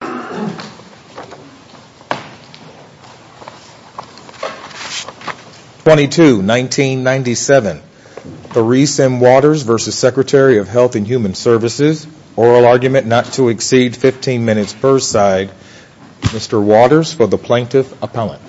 22, 1997, Therese M. Waters v. Secretary of Health and Human Services, oral argument not to exceed 15 minutes per side, Mr. Waters for the Plaintiff-Appellant.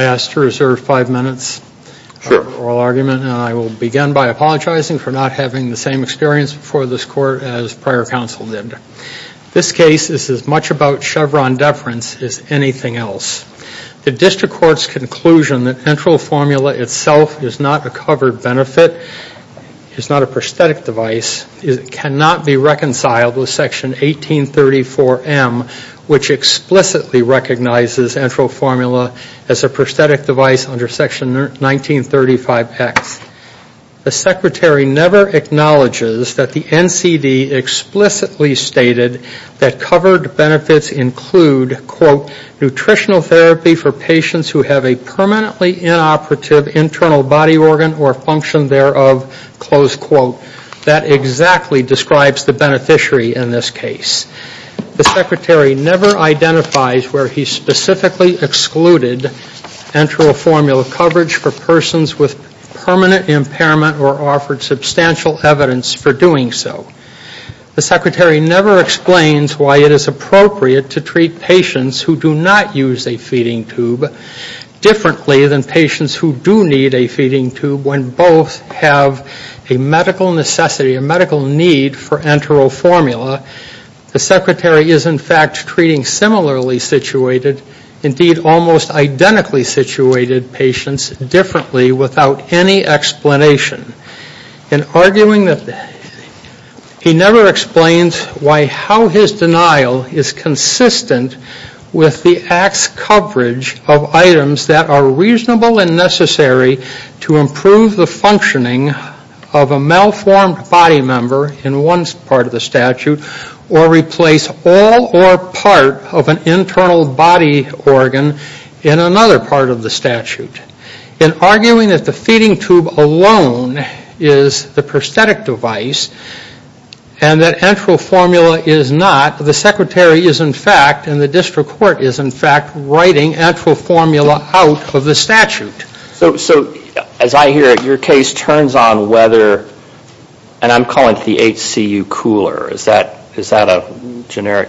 I ask to reserve five minutes for oral argument. And I will begin by apologizing for not having the same experience before this Court as prior counsel did. This case is as much about Chevron deference as anything else. The District Court's conclusion that enteral formula itself is not a covered benefit, is not a prosthetic device, cannot be reconciled with Section 1834M, which explicitly recognizes enteral formula as a prosthetic device under Section 1935X. The Secretary never acknowledges that the NCD explicitly stated that covered benefits include, quote, nutritional therapy for patients who have a permanently inoperative internal body organ or function thereof, close quote. That exactly describes the beneficiary in this case. The Secretary never identifies where he specifically excluded enteral formula coverage for persons with permanent impairment or offered substantial evidence for doing so. The Secretary never explains why it is appropriate to treat patients who do not use a feeding tube differently than patients who do need a feeding tube when both have a medical necessity, a medical need for enteral formula. The Secretary is in fact treating similarly situated, indeed almost identically situated patients differently without any explanation. In arguing that, he never explains why how his denial is consistent with the Act's coverage of items that are reasonable and necessary to improve the functioning of a malformed body member in one part of the statute or replace all or part of an internal body organ in another part of the statute. In arguing that the feeding tube alone is the prosthetic device and that enteral formula is not, the Secretary is in fact and the District Court is in fact writing enteral formula out of the statute. So as I hear it, your case turns on whether, and I'm calling it the HCU cooler. Is that a generic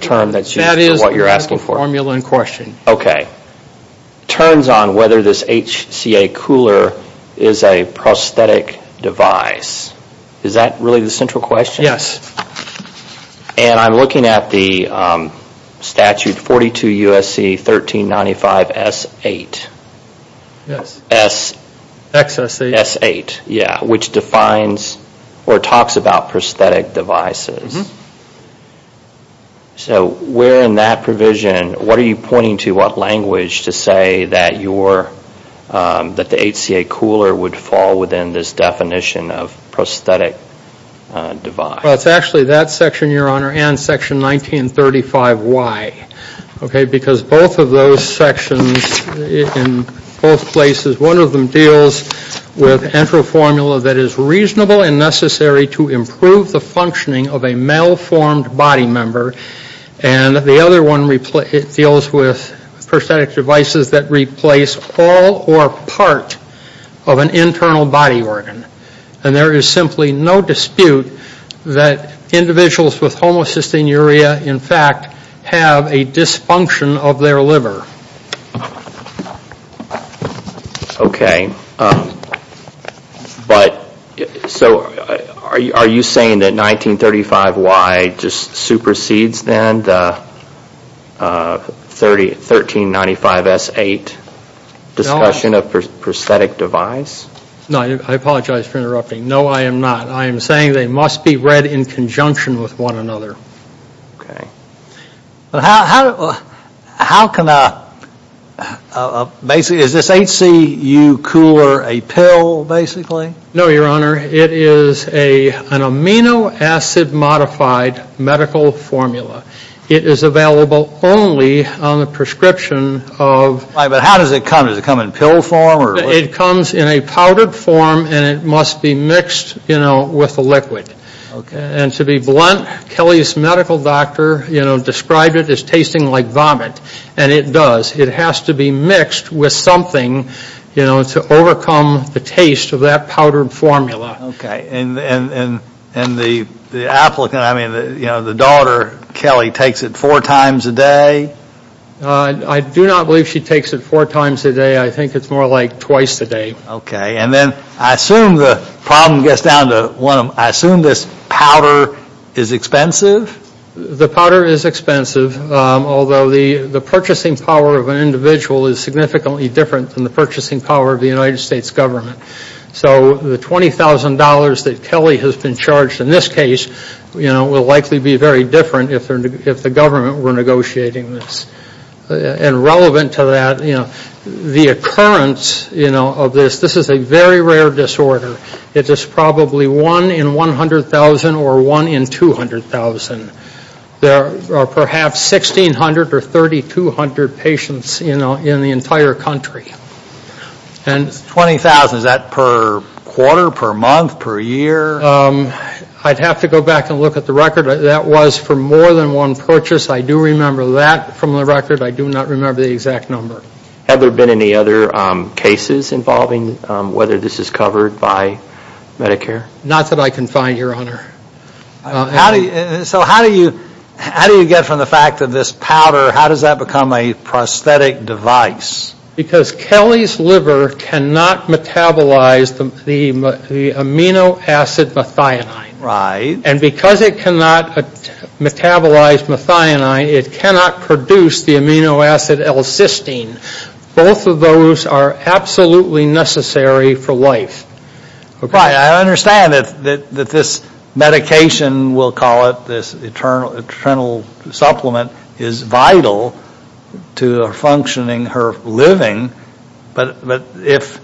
term that's used for what you're asking for? That is the enteral formula in question. Okay. Turns on whether this HCA cooler is a prosthetic device. Is that really the central question? Yes. And I'm looking at the statute 42 U.S.C. 1395 S.8. Yes. X.S.8. S.8, yeah, which defines or talks about prosthetic devices. So where in that provision, what are you pointing to? What language to say that your, that the HCA cooler would fall within this definition of Well, it's actually that section, your Honor, and section 1935Y. Okay, because both of those sections in both places, one of them deals with enteral formula that is reasonable and necessary to improve the functioning of a malformed body member. And the other one, it deals with prosthetic devices that replace all or part of an internal body organ. And there is simply no dispute that individuals with homocysteine urea, in fact, have a dysfunction of their liver. Okay, but so are you saying that 1935Y just supersedes then the 1395 S.8 discussion of prosthetic device? No, I apologize for interrupting. No, I am not. I am saying they must be read in conjunction with one another. Okay. How can a, basically, is this HCU cooler a pill, basically? No, your Honor, it is an amino acid modified medical formula. It is available only on the prescription of Right, but how does it come? Does it come in pill form or? It comes in a powdered form and it must be mixed, you know, with a liquid. Okay. And to be blunt, Kelly's medical doctor, you know, described it as tasting like vomit. And it does. It has to be mixed with something, you know, to overcome the taste of that powdered formula. Okay, and the applicant, I mean, you know, the daughter, Kelly, takes it four times a day? I do not believe she takes it four times a day. I think it is more like twice a day. Okay, and then I assume the problem gets down to one of, I assume this powder is expensive? The powder is expensive, although the purchasing power of an individual is significantly different than the purchasing power of the United States government. So the $20,000 that Kelly has been charged in this case, you know, will likely be very different if the government were negotiating this. And relevant to that, you know, the occurrence, you know, of this, this is a very rare disorder. It is probably one in 100,000 or one in 200,000. There are perhaps 1,600 or 3,200 patients, you know, in the entire country. And... Twenty thousand, is that per quarter, per month, per year? I'd have to go back and look at the record. That was for more than one purchase. I do remember that from the record. I do not remember the exact number. Have there been any other cases involving whether this is covered by Medicare? Not that I can find, Your Honor. How do you, so how do you, how do you get from the fact that this powder, how does that become a prosthetic device? Because Kelly's liver cannot metabolize the amino acid methionine. Right. And because it cannot metabolize methionine, it cannot produce the amino acid L-cysteine. Both of those are absolutely necessary for life. Right, I understand that this medication, we'll call it, this internal supplement, is vital to her functioning, her living. But if,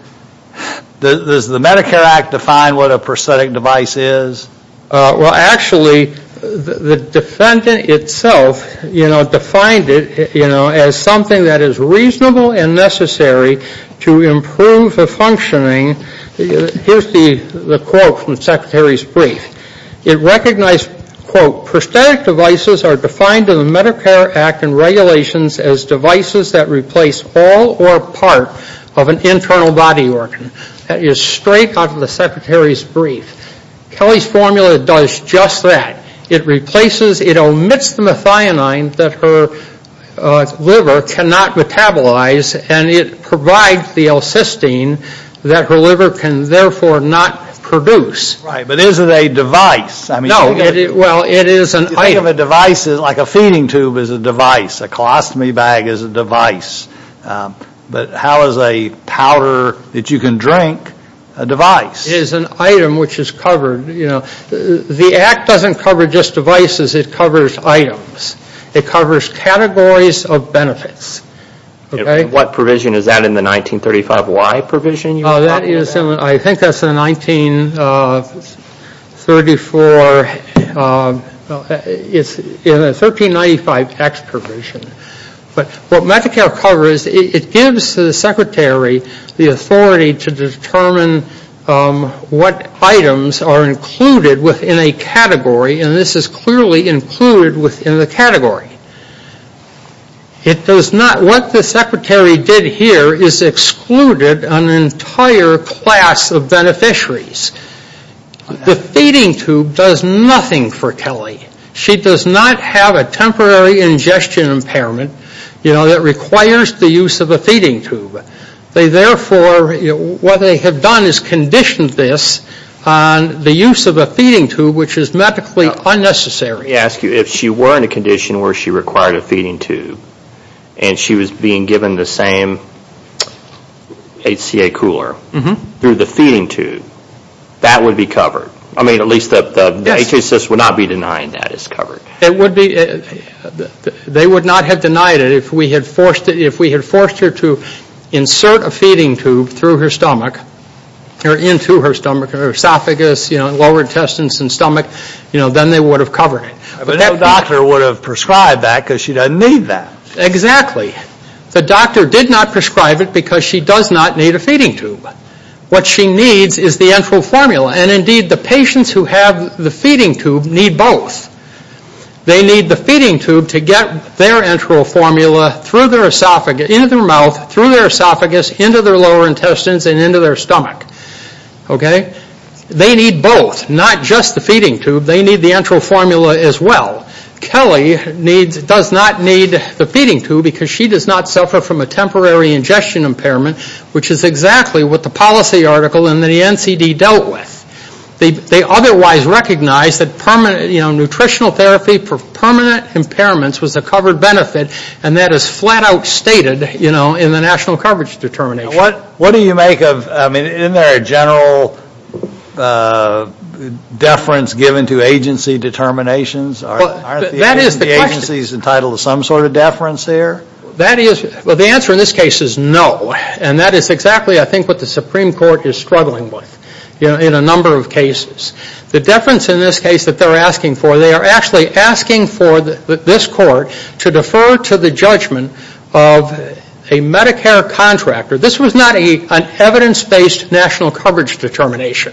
does the Medicare Act define what a prosthetic device is? Well, actually, the defendant itself, you know, defined it, you know, as something that is reasonable and necessary to improve her functioning. Here's the quote from the Secretary's brief. It recognized, quote, prosthetic devices are defined in the Medicare Act and regulations as devices that replace all or part of an internal body organ. That is straight out of the Secretary's brief. Kelly's formula does just that. It replaces, it omits the methionine that her liver cannot metabolize and it provides the L-cysteine that her liver can therefore not produce. Right, but is it a device? I mean, no. Well, it is an item. You think of a device as like a feeding tube is a device, a colostomy bag is a device. But how is a powder that you can drink a device? It is an item which is covered, you know. The Act doesn't cover just devices, it covers items. It covers categories of benefits. Okay. What provision is that in the 1935Y provision you were talking about? I think that's in the 1934, it's in the 1395X provision. But what Medicare covers, it gives the Secretary the authority to determine what items are included within a category and this is clearly included within the category. It does not, what the Secretary did here is excluded an entire class of beneficiaries. The feeding tube does nothing for Kelly. She does not have a temporary ingestion impairment, you know, that requires the use of a feeding tube. They therefore, what they have done is conditioned this on the use of a feeding tube which is medically unnecessary. Let me ask you, if she were in a condition where she required a feeding tube and she was being given the same HCA cooler through the feeding tube, that would be covered? I mean, at least the HCA system would not be denying that it's covered. It would be, they would not have denied it if we had forced her to insert a feeding tube through her stomach or into her stomach or esophagus, you know, lower intestines and stomach, you know, then they would have covered it. But no doctor would have prescribed that because she doesn't need that. Exactly. The doctor did not prescribe it because she does not need a feeding tube. What she needs is the enteral formula. And indeed, the patients who have the feeding tube need both. They need the feeding tube to get their enteral formula through their esophagus, into their mouth, through their esophagus, into their lower intestines and into their stomach. Okay? They need both, not just the feeding tube. They need the enteral formula as well. Kelly does not need the feeding tube because she does not suffer from a temporary ingestion impairment, which is exactly what the policy article in the NCD dealt with. They otherwise recognized that, you know, nutritional therapy for permanent impairments was a covered benefit. And that is flat out stated, you know, in the national coverage determination. What do you make of, I mean, isn't there a general deference given to agency determinations? Aren't the agencies entitled to some sort of deference there? That is, well, the answer in this case is no. And that is exactly, I think, what the Supreme Court is struggling with, you know, in a number of cases. The deference in this case that they're asking for, they are actually asking for this court to defer to the judgment of a Medicare contractor. This was not an evidence-based national coverage determination.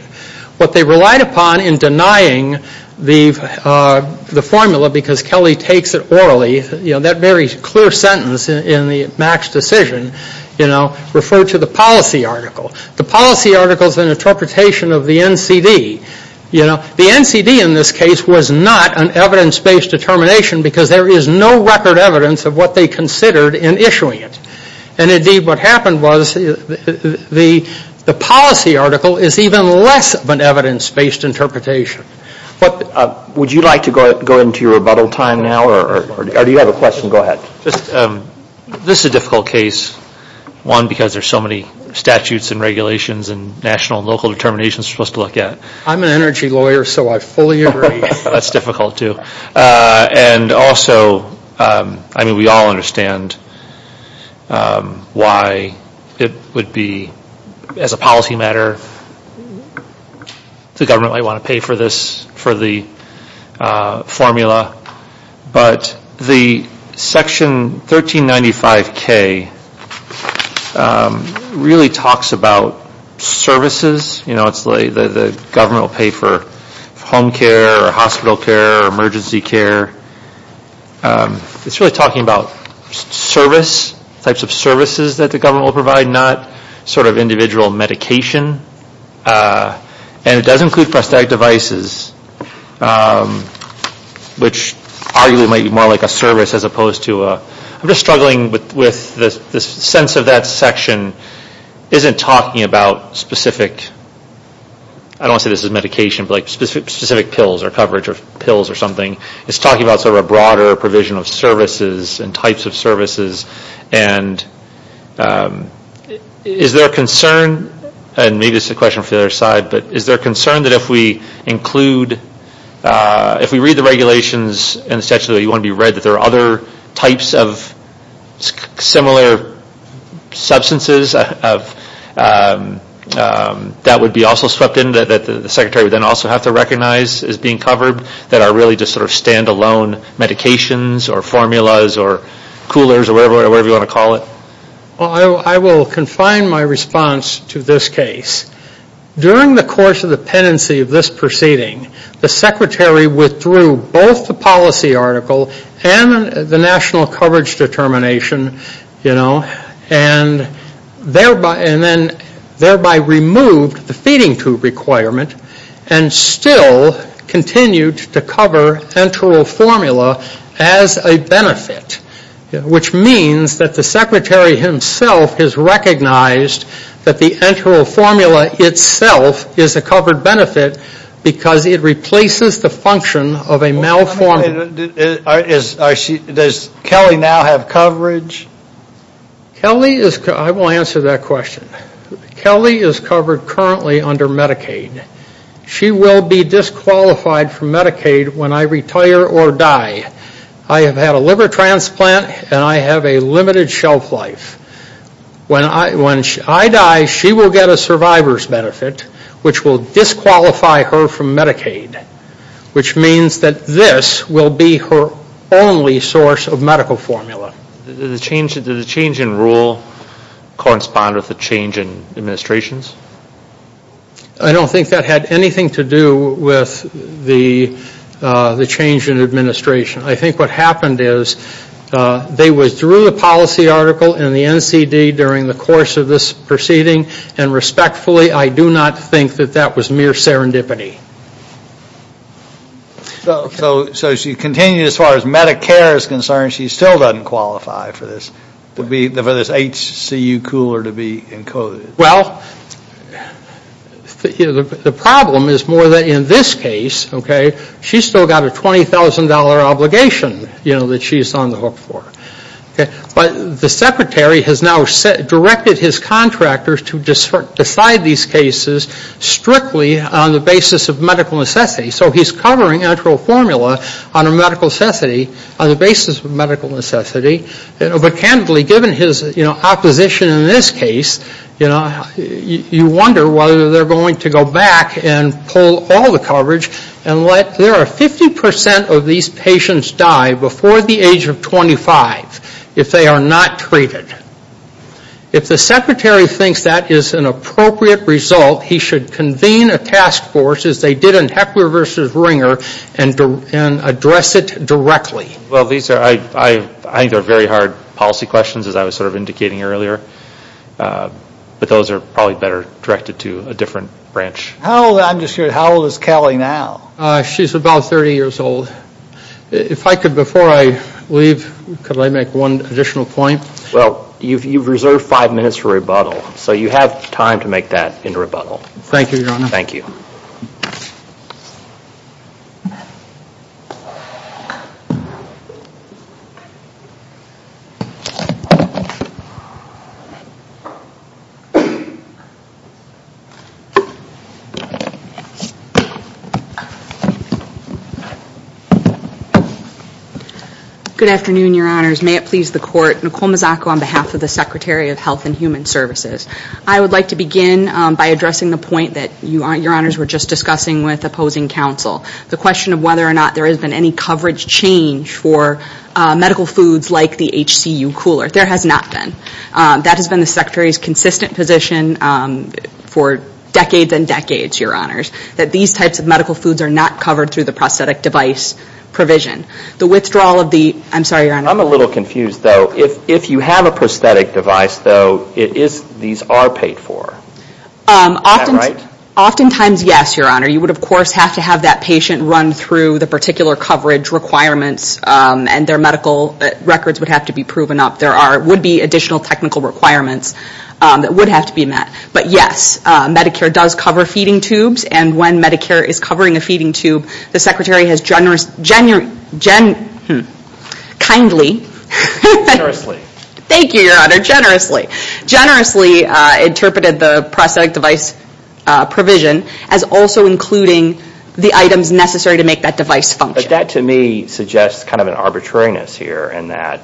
What they relied upon in denying the formula because Kelly takes it orally, you know, that very clear sentence in the Max decision, you know, referred to the policy article. The policy article is an interpretation of the NCD. You know, the NCD in this case was not an evidence-based determination because there is no record evidence of what they considered in issuing it. And indeed, what happened was the policy article is even less of an evidence-based interpretation. Would you like to go into your rebuttal time now or do you have a question? Go ahead. This is a difficult case, one, because there's so many statutes and regulations and national and local determinations for us to look at. I'm an energy lawyer, so I fully agree. That's difficult, too. And also, I mean, we all understand why it would be, as a policy matter, the government might want to pay for this, for the formula. But the section 1395K really talks about services. You know, it's like the government will pay for home care or hospital care or emergency care. It's really talking about service, types of services that the government will provide, not sort of individual medication. And it does include prosthetic devices, which arguably might be more like a service as opposed to a, I'm just struggling with the sense of that section isn't talking about specific, I don't want to say this is medication, but like specific pills or coverage of pills or something. It's talking about sort of a broader provision of services and types of services and is there a concern, and maybe this is a question for the other side, but is there a concern that if we include, if we read the regulations in the statute that you want to be read that there are other types of similar substances that would be also swept in, that the secretary would then also have to recognize as being covered, that are really just sort of standalone medications or formulas or coolers or whatever you want to call it? Well, I will confine my response to this case. During the course of the pendency of this proceeding, the secretary withdrew both the policy article and the national coverage determination, you know, and thereby removed the feeding tube requirement and still continued to cover enteral formula as a benefit, which means that the secretary himself has recognized that the enteral formula itself is a covered benefit because it replaces the function of a malformative. Does Kelly now have coverage? Kelly is, I will answer that question. Kelly is covered currently under Medicaid. She will be disqualified from Medicaid when I retire or die. I have had a liver transplant and I have a limited shelf life. When I die, she will get a survivor's benefit, which will disqualify her from Medicaid, which means that this will be her only source of medical formula. Does the change in rule correspond with the change in administrations? I don't think that had anything to do with the change in administration. I think what happened is they withdrew the policy article and the NCD during the course of this proceeding. And respectfully, I do not think that that was mere serendipity. So she continued as far as Medicare is concerned, she still doesn't qualify for this HCU cooler to be encoded? Well, the problem is more that in this case, okay, she still got a $20,000 obligation that she is on the hook for. But the secretary has now directed his contractors to decide these cases strictly on the basis of medical necessity. So he is covering enteral formula on a medical necessity, on the basis of medical necessity. But candidly, given his, you know, opposition in this case, you know, you wonder whether they're going to go back and pull all the coverage and let, there are 50% of these patients die before the age of 25 if they are not treated. If the secretary thinks that is an appropriate result, he should convene a task force as they did in Heckler v. Ringer and address it directly. Well, these are, I think they're very hard policy questions as I was sort of indicating earlier. But those are probably better directed to a different branch. How old, I'm just curious, how old is Callie now? She's about 30 years old. If I could, before I leave, could I make one additional point? Well, you've reserved five minutes for rebuttal. So you have time to make that in rebuttal. Thank you, Your Honor. Thank you. Good afternoon, Your Honors. May it please the Court. Nicole Mazzocco on behalf of the Secretary of Health and Human Services. I would like to begin by addressing the point that Your Honors were just discussing with opposing counsel, the question of whether or not there has been any coverage change for medical foods like the HCU cooler. There has not been. That has been the Secretary's consistent position for decades and decades, Your Honors, that these types of medical foods are not covered through the prosthetic device provision. The withdrawal of the, I'm sorry, Your Honor. I'm a little confused, though. If you have a prosthetic device, though, these are paid for. Is that right? Oftentimes, yes, Your Honor. You would, of course, have to have that patient run through the particular coverage requirements, and their medical records would have to be proven up. There would be additional technical requirements that would have to be met. But yes, Medicare does cover feeding tubes, and when Medicare is covering a feeding tube, the Secretary has generously interpreted the prosthetic device provision as also including the items necessary to make that device function. But that, to me, suggests kind of an arbitrariness here in that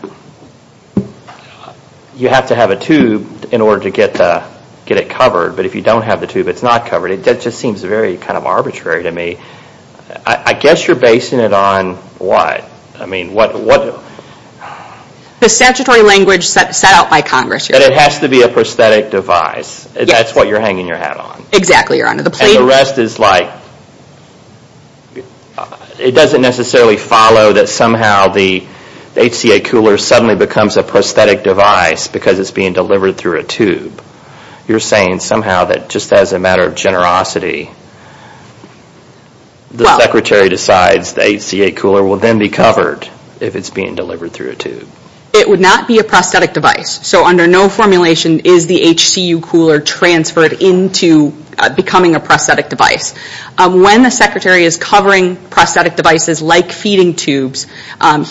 you have to have a tube in order to get it covered, but if you don't have the tube, it's not covered. It just seems very kind of arbitrary to me. I guess you're basing it on what? I mean, what? The statutory language set out by Congress, Your Honor. But it has to be a prosthetic device. Yes. That's what you're hanging your hat on. Exactly, Your Honor. And the rest is like, it doesn't necessarily follow that somehow the HCA cooler suddenly becomes a prosthetic device because it's being delivered through a tube. You're saying somehow that just as a matter of generosity, the Secretary decides the HCA cooler will then be covered if it's being delivered through a tube. It would not be a prosthetic device. So under no formulation is the HCU cooler transferred into becoming a prosthetic device. When the Secretary is covering prosthetic devices like feeding tubes,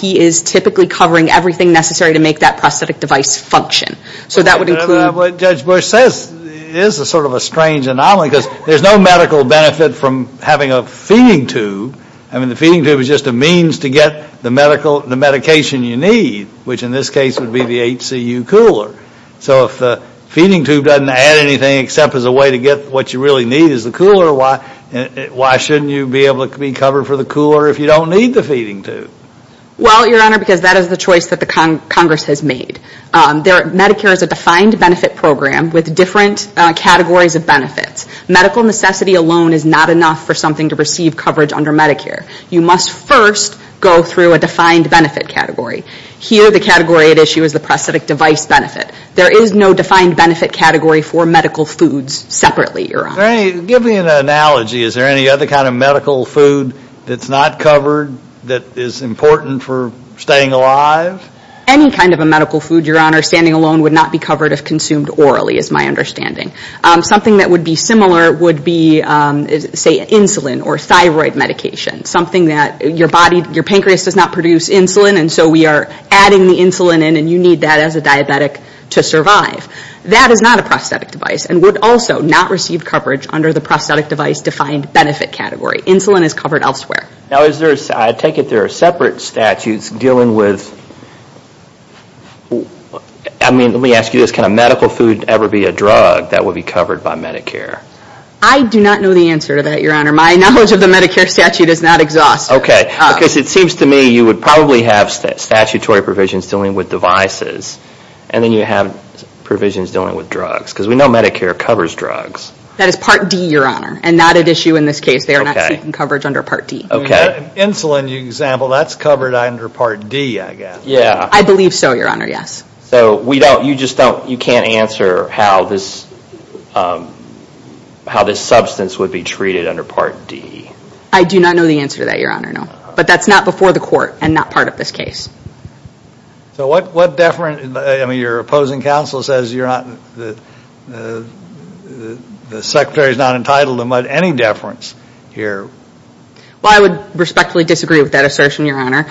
he is typically covering everything necessary to make that prosthetic device function. So that would include. What Judge Bush says is sort of a strange anomaly because there's no medical benefit from having a feeding tube. I mean, the feeding tube is just a means to get the medication you need, which in this case would be the HCU cooler. So if the feeding tube doesn't add anything except as a way to get what you really need is the cooler, why shouldn't you be able to be covered for the cooler if you don't need the feeding tube? Well, Your Honor, because that is the choice that the Congress has made. Medicare is a defined benefit program with different categories of benefits. Medical necessity alone is not enough for something to receive coverage under Medicare. You must first go through a defined benefit category. Here, the category at issue is the prosthetic device benefit. There is no defined benefit category for medical foods separately, Your Honor. Give me an analogy. Is there any other kind of medical food that's not covered that is important for staying alive? Any kind of a medical food, Your Honor, standing alone would not be covered if consumed orally is my understanding. Something that would be similar would be say insulin or thyroid medication. Something that your body, your pancreas does not produce insulin and so we are adding the insulin in and you need that as a diabetic to survive. That is not a prosthetic device and would also not receive coverage under the prosthetic device defined benefit category. Insulin is covered elsewhere. Now is there, I take it there are separate statutes dealing with, I mean let me ask you this, can a medical food ever be a drug that would be covered by Medicare? I do not know the answer to that, Your Honor. My knowledge of the Medicare statute is not exhaustive. Okay, because it seems to me you would probably have statutory provisions dealing with devices and then you have provisions dealing with drugs because we know Medicare covers drugs. That is Part D, Your Honor, and not at issue in this case. They are not seeking coverage under Part D. Okay. Insulin, you example, that's covered under Part D, I guess. Yeah. I believe so, Your Honor, yes. So we don't, you just don't, you can't answer how this substance would be treated under Part D. I do not know the answer to that, Your Honor, no. But that's not before the court and not part of this case. So what deference, I mean your opposing counsel says you're not, the Secretary's not entitled to any deference here. Well, I would respectfully disagree with that assertion, Your Honor.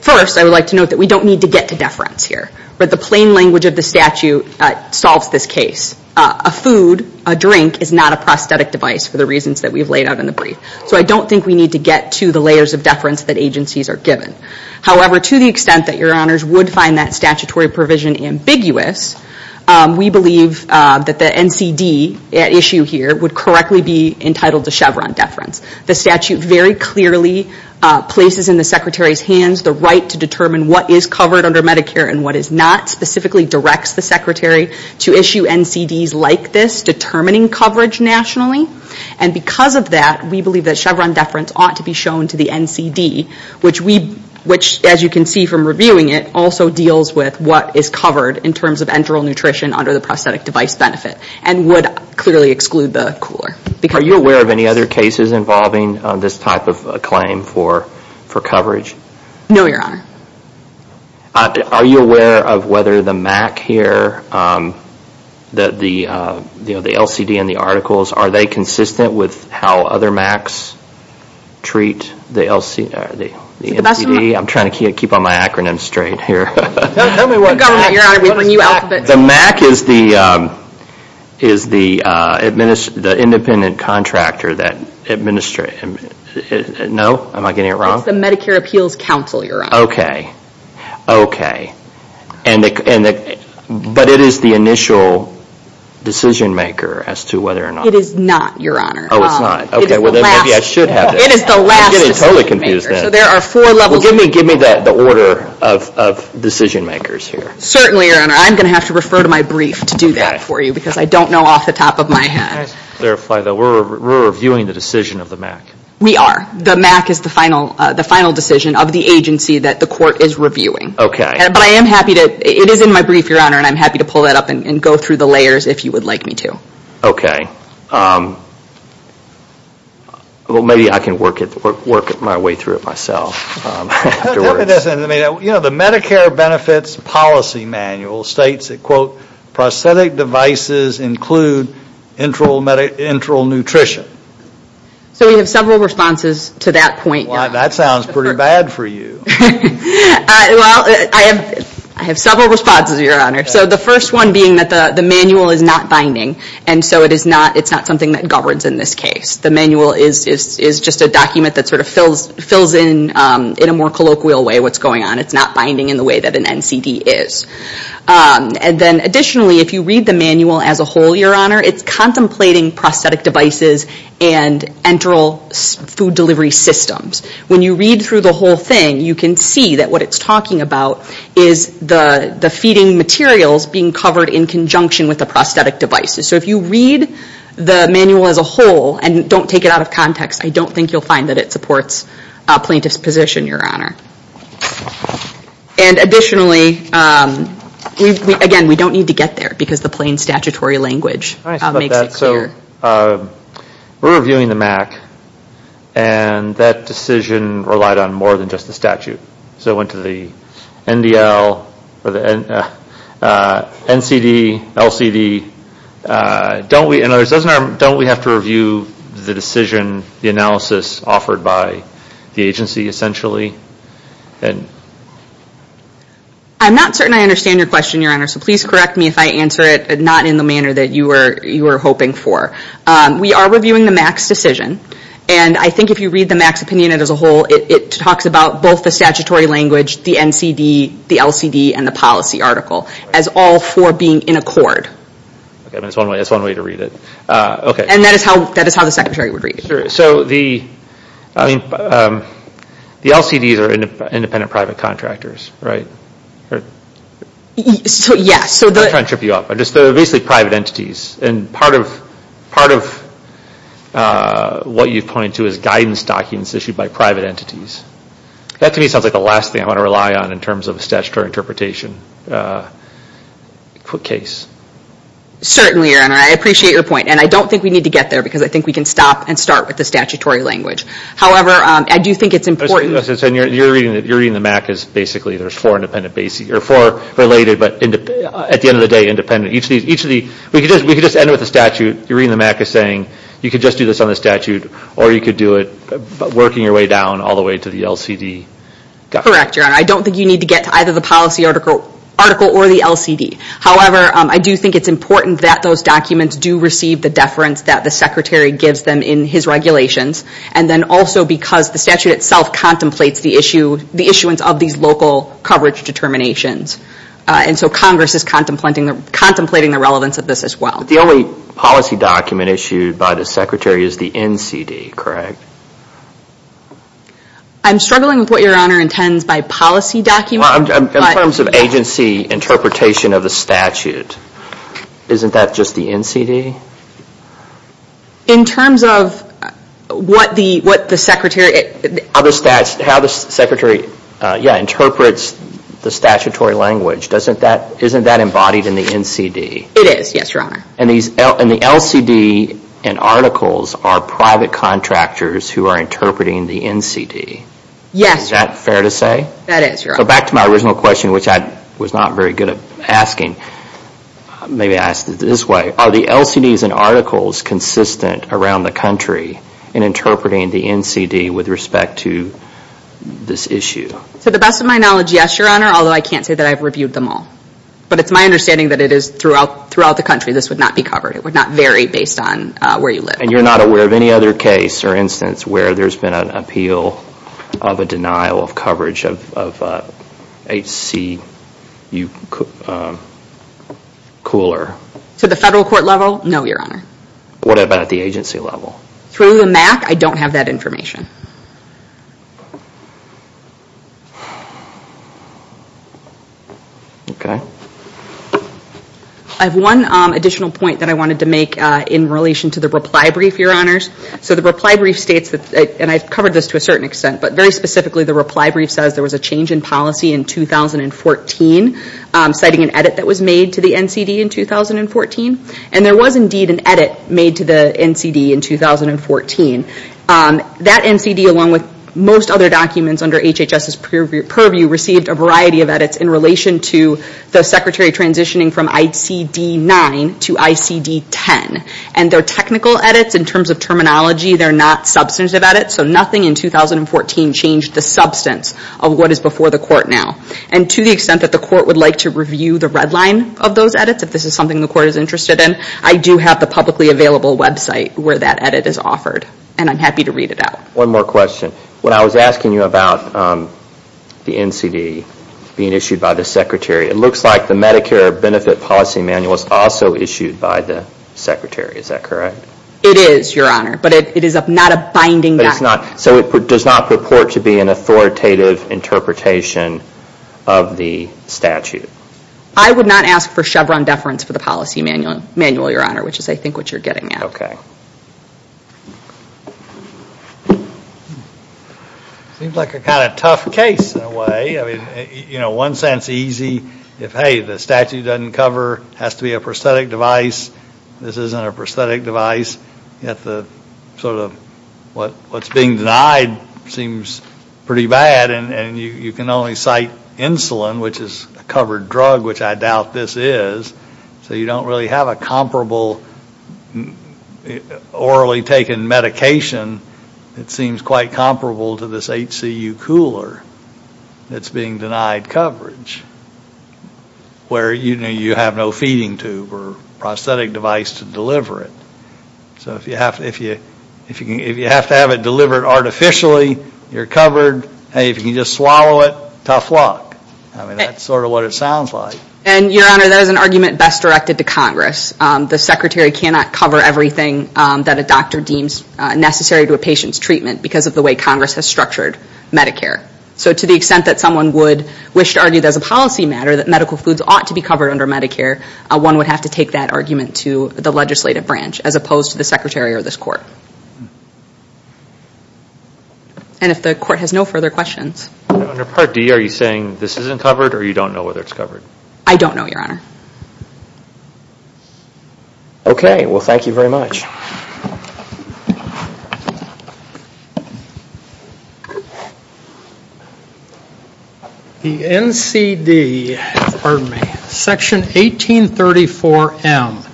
First, I would like to note that we don't need to get to deference here. But the plain language of the statute solves this case. A food, a drink is not a prosthetic device for the reasons that we've laid out in the brief. So I don't think we need to get to the layers of deference that agencies are given. However, to the extent that Your Honors would find that statutory provision ambiguous, we believe that the NCD at issue here would correctly be entitled to Chevron deference. The statute very clearly places in the Secretary's hands the right to determine what is covered under Medicare and what is not, specifically directs the Secretary to issue NCDs like this, determining coverage nationally. And because of that, we believe that Chevron deference ought to be shown to the NCD, which as you can see from reviewing it, also deals with what is covered in terms of enteral nutrition under the prosthetic device benefit and would clearly exclude the cooler. Are you aware of any other cases involving this type of claim for coverage? No, Your Honor. Are you aware of whether the MAC here, the LCD and the articles, are they consistent with how other MACs treat the NCD? I'm trying to keep on my acronym straight here. Tell me what MAC is. The MAC is the independent contractor that administers... No? Am I getting it wrong? It's the Medicare Appeals Council, Your Honor. Okay. Okay. But it is the initial decision maker as to whether or not... It is not, Your Honor. Oh, it's not. Okay. It is the last decision maker. I'm getting totally confused then. Give me the order of decision makers here. Certainly, Your Honor. I'm going to have to refer to my brief to do that for you We're reviewing the decision of the MAC. We are. The MAC is the final decision of the agency that the court is reviewing. Okay. But I am happy to... It is in my brief, Your Honor, and I'm happy to pull that up and go through the layers if you would like me to. Okay. Well, maybe I can work my way through it myself. You know, the Medicare Benefits Policy Manual states that, prosthetic devices include enteral nutrition. So we have several responses to that point. Well, that sounds pretty bad for you. Well, I have several responses, Your Honor. So the first one being that the manual is not binding, and so it's not something that governs in this case. The manual is just a document that sort of fills in, in a more colloquial way, what's going on. It's not binding in the way that an NCD is. And then additionally, if you read the manual as a whole, Your Honor, it's contemplating prosthetic devices and enteral food delivery systems. When you read through the whole thing, you can see that what it's talking about is the feeding materials being covered in conjunction with the prosthetic devices. So if you read the manual as a whole, and don't take it out of context, I don't think you'll find that it supports a plaintiff's position, Your Honor. And additionally, again, we don't need to get there because the plain statutory language makes it clear. We're reviewing the MAC, and that decision relied on more than just the statute. So it went to the NDL, NCD, LCD. Don't we have to review the decision, the analysis offered by the agency, essentially? I'm not certain I understand your question, Your Honor, so please correct me if I answer it not in the manner that you were hoping for. We are reviewing the MAC's decision, and I think if you read the MAC's opinion as a whole, it talks about both the statutory language, the NCD, the LCD, and the policy article as all four being in accord. That's one way to read it. And that is how the Secretary would read it. So the LCDs are independent private contractors, right? I'm not trying to trip you up. They're basically private entities. And part of what you point to is guidance documents issued by private entities. That to me sounds like the last thing I want to rely on in terms of statutory interpretation. Quick case. Certainly, Your Honor. I appreciate your point. And I don't think we need to get there because I think we can stop and start with the statutory language. However, I do think it's important. You're reading the MAC as basically there's four related, but at the end of the day, independent. We could just end with the statute. You're reading the MAC as saying you could just do this on the statute, or you could do it working your way down all the way to the LCD. Correct, Your Honor. I don't think you need to get to either the policy article or the LCD. However, I do think it's important that those documents do receive the deference that the Secretary gives them in his regulations. And then also because the statute itself contemplates the issuance of these local coverage determinations. And so Congress is contemplating the relevance of this as well. The only policy document issued by the Secretary is the NCD, correct? I'm struggling with what Your Honor intends by policy document. In terms of agency interpretation of the statute, isn't that just the NCD? In terms of what the Secretary... How the Secretary interprets the statutory language, isn't that embodied in the NCD? It is, yes, Your Honor. And the LCD and articles are private contractors who are interpreting the NCD. Yes. Is that fair to say? That is, Your Honor. So back to my original question, which I was not very good at asking. Maybe I asked it this way. Are the LCDs and articles consistent around the country in interpreting the NCD with respect to this issue? To the best of my knowledge, yes, Your Honor. Although I can't say that I've reviewed them all. But it's my understanding that it is throughout the country. This would not be covered. It would not vary based on where you live. And you're not aware of any other case or instance where there's been an appeal of a denial of coverage of HCU cooler? To the federal court level, no, Your Honor. What about at the agency level? Through the MAC, I don't have that information. Okay. I have one additional point that I wanted to make in relation to the reply brief, Your Honors. So the reply brief states, and I've covered this to a certain extent, but very specifically the reply brief says there was a change in policy in 2014 citing an edit that was made to the NCD in 2014. And there was indeed an edit made to the NCD in 2014. That NCD, along with most other documents under HHS's purview, received a variety of edits in relation to the secretary transitioning from ICD-9 to ICD-10. And they're technical edits in terms of terminology. They're not substantive edits. So nothing in 2014 changed the substance of what is before the court now. And to the extent that the court would like to review the red line of those edits, if this is something the court is interested in, I do have the publicly available website where that edit is offered. And I'm happy to read it out. One more question. When I was asking you about the NCD being issued by the secretary, it looks like the Medicare benefit policy manual is also issued by the secretary. Is that correct? It is, Your Honor. But it is not a binding document. So it does not purport to be an authoritative interpretation of the statute? I would not ask for Chevron deference for the policy manual, Your Honor, which is, I think, what you're getting at. Okay. Seems like a kind of tough case in a way. I mean, you know, one sense easy if, hey, the statute doesn't cover, has to be a prosthetic device, this isn't a prosthetic device. Yet the sort of what's being denied seems pretty bad. And you can only cite insulin, which is a covered drug, which I doubt this is. So you don't really have a comparable orally taken medication that seems quite comparable to this HCU cooler that's being denied coverage where you have no feeding tube or prosthetic device to deliver it. So if you have to have it delivered artificially, you're covered. Hey, if you can just swallow it, tough luck. I mean, that's sort of what it sounds like. And, Your Honor, that is an argument best directed to Congress. The Secretary cannot cover everything that a doctor deems necessary to a patient's treatment because of the way Congress has structured Medicare. So to the extent that someone would wish to argue that as a policy matter that medical foods ought to be covered under Medicare, one would have to take that argument to the legislative branch as opposed to the Secretary or this Court. And if the Court has no further questions. Under Part D, are you saying this isn't covered or you don't know whether it's covered? I don't know, Your Honor. Okay. Well, thank you very much. The NCD, pardon me, Section 1834M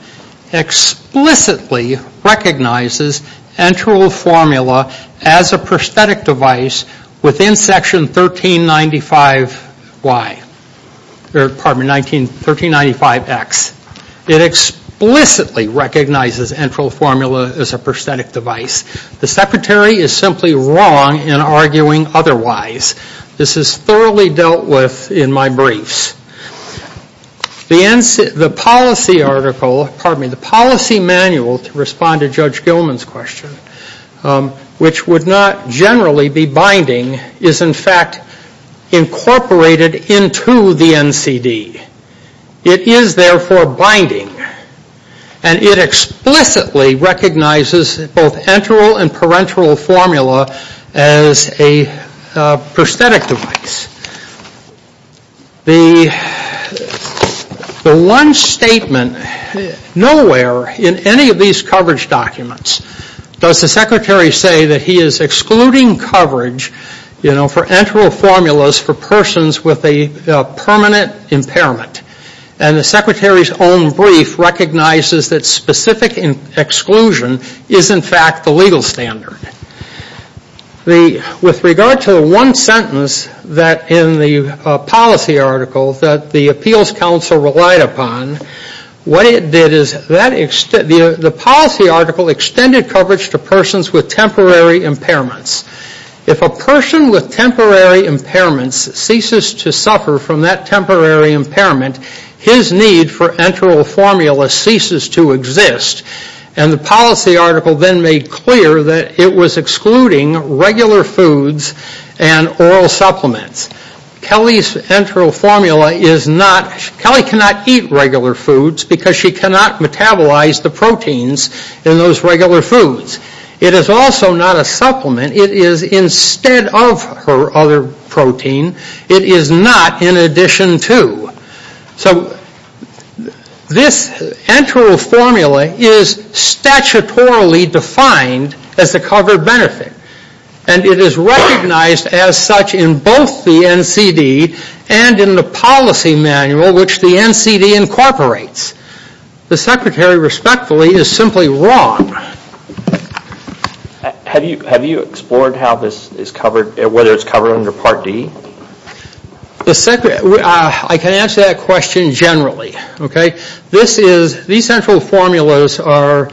explicitly recognizes enteral formula as a prosthetic device within Section 1395X. Pardon me, 1395X. It explicitly recognizes enteral formula as a prosthetic device. The Secretary is simply wrong in arguing otherwise. This is thoroughly dealt with in my briefs. The policy manual to respond to Judge Gilman's question, which would not generally be binding, is in fact incorporated into the NCD. It is therefore binding. And it explicitly recognizes both enteral and parenteral formula as a prosthetic device. The one statement nowhere in any of these coverage documents does the Secretary say that he is excluding coverage for enteral formulas for persons with a permanent impairment. And the Secretary's own brief recognizes that specific exclusion is in fact the legal standard. With regard to the one sentence in the policy article that the Appeals Council relied upon, what it did is the policy article extended coverage to persons with temporary impairments. If a person with temporary impairments ceases to suffer from that temporary impairment, his need for enteral formula ceases to exist. And the policy article then made clear that it was excluding regular foods and oral supplements. Kelly's enteral formula is not, Kelly cannot eat regular foods because she cannot metabolize the proteins in those regular foods. It is also not a supplement. It is instead of her other protein, it is not in addition to. So this enteral formula is statutorily defined as a covered benefit. And it is recognized as such in both the NCD and in the policy manual which the NCD incorporates. The Secretary respectfully is simply wrong. Have you explored how this is covered, whether it's covered under Part D? I can answer that question generally. These enteral formulas are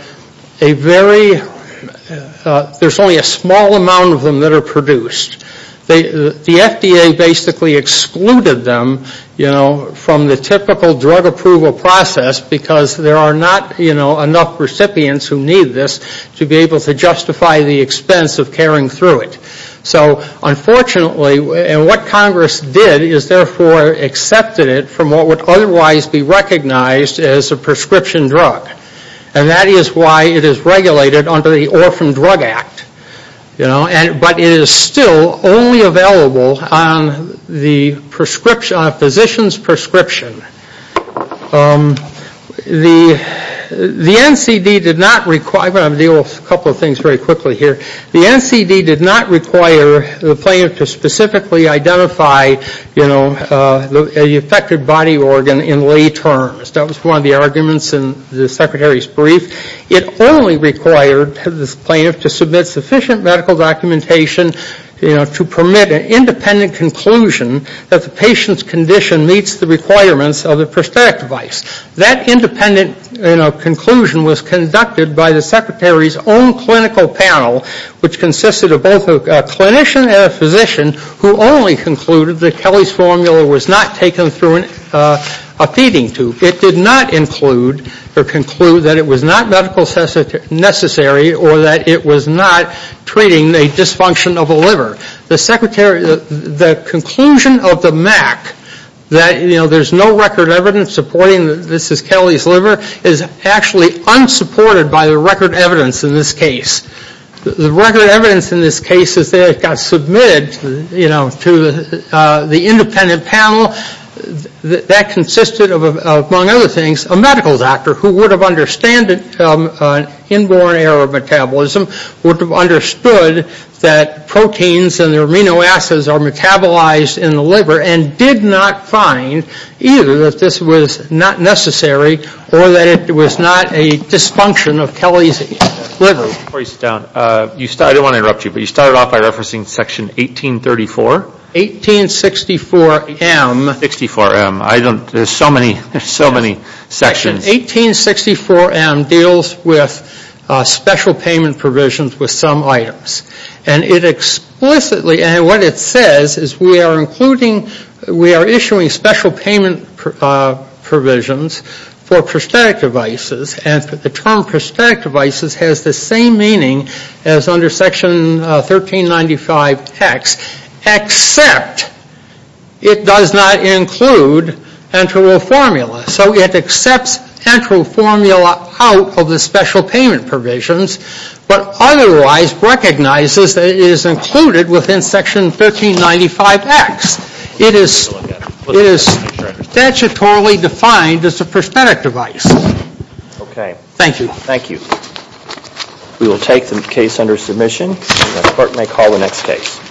a very, there's only a small amount of them that are produced. The FDA basically excluded them from the typical drug approval process because there are not enough recipients who need this to be able to justify the expense of carrying through it. So unfortunately, and what Congress did is therefore accepted it from what would otherwise be recognized as a prescription drug. And that is why it is regulated under the Orphan Drug Act. But it is still only available on the physician's prescription. The NCD did not require, I'm going to deal with a couple of things very quickly here. The NCD did not require the plaintiff to specifically identify the affected body organ in lay terms. That was one of the arguments in the Secretary's brief. It only required the plaintiff to submit sufficient medical documentation to permit an independent conclusion that the patient's condition meets the requirements of the prosthetic device. That independent conclusion was conducted by the Secretary's own clinical panel which consisted of both a clinician and a physician who only concluded that Kelly's formula was not taken through a feeding tube. It did not include or conclude that it was not medical necessary or that it was not treating a dysfunction of a liver. The conclusion of the MAC that there is no record evidence supporting that this is Kelly's liver is actually unsupported by the record evidence in this case. The record evidence in this case is that it got submitted to the independent panel. That consisted of, among other things, a medical doctor who would have understood inborn error of metabolism, would have understood that proteins and their amino acids are metabolized in the liver and did not find either that this was not necessary or that it was not a dysfunction of Kelly's liver. Before you sit down, I don't want to interrupt you, but you started off by referencing section 1834. 1864M. 1864M. There's so many sections. 1864M deals with special payment provisions with some items. And it explicitly, and what it says is we are including, we are issuing special payment provisions for prosthetic devices. And the term prosthetic devices has the same meaning as under section 1395X, except it does not include enteral formula. So it accepts enteral formula out of the special payment provisions, but otherwise recognizes that it is included within section 1395X. It is statutorily defined as a prosthetic device. Okay. Thank you. Thank you. We will take the case under submission. The court may call the next case.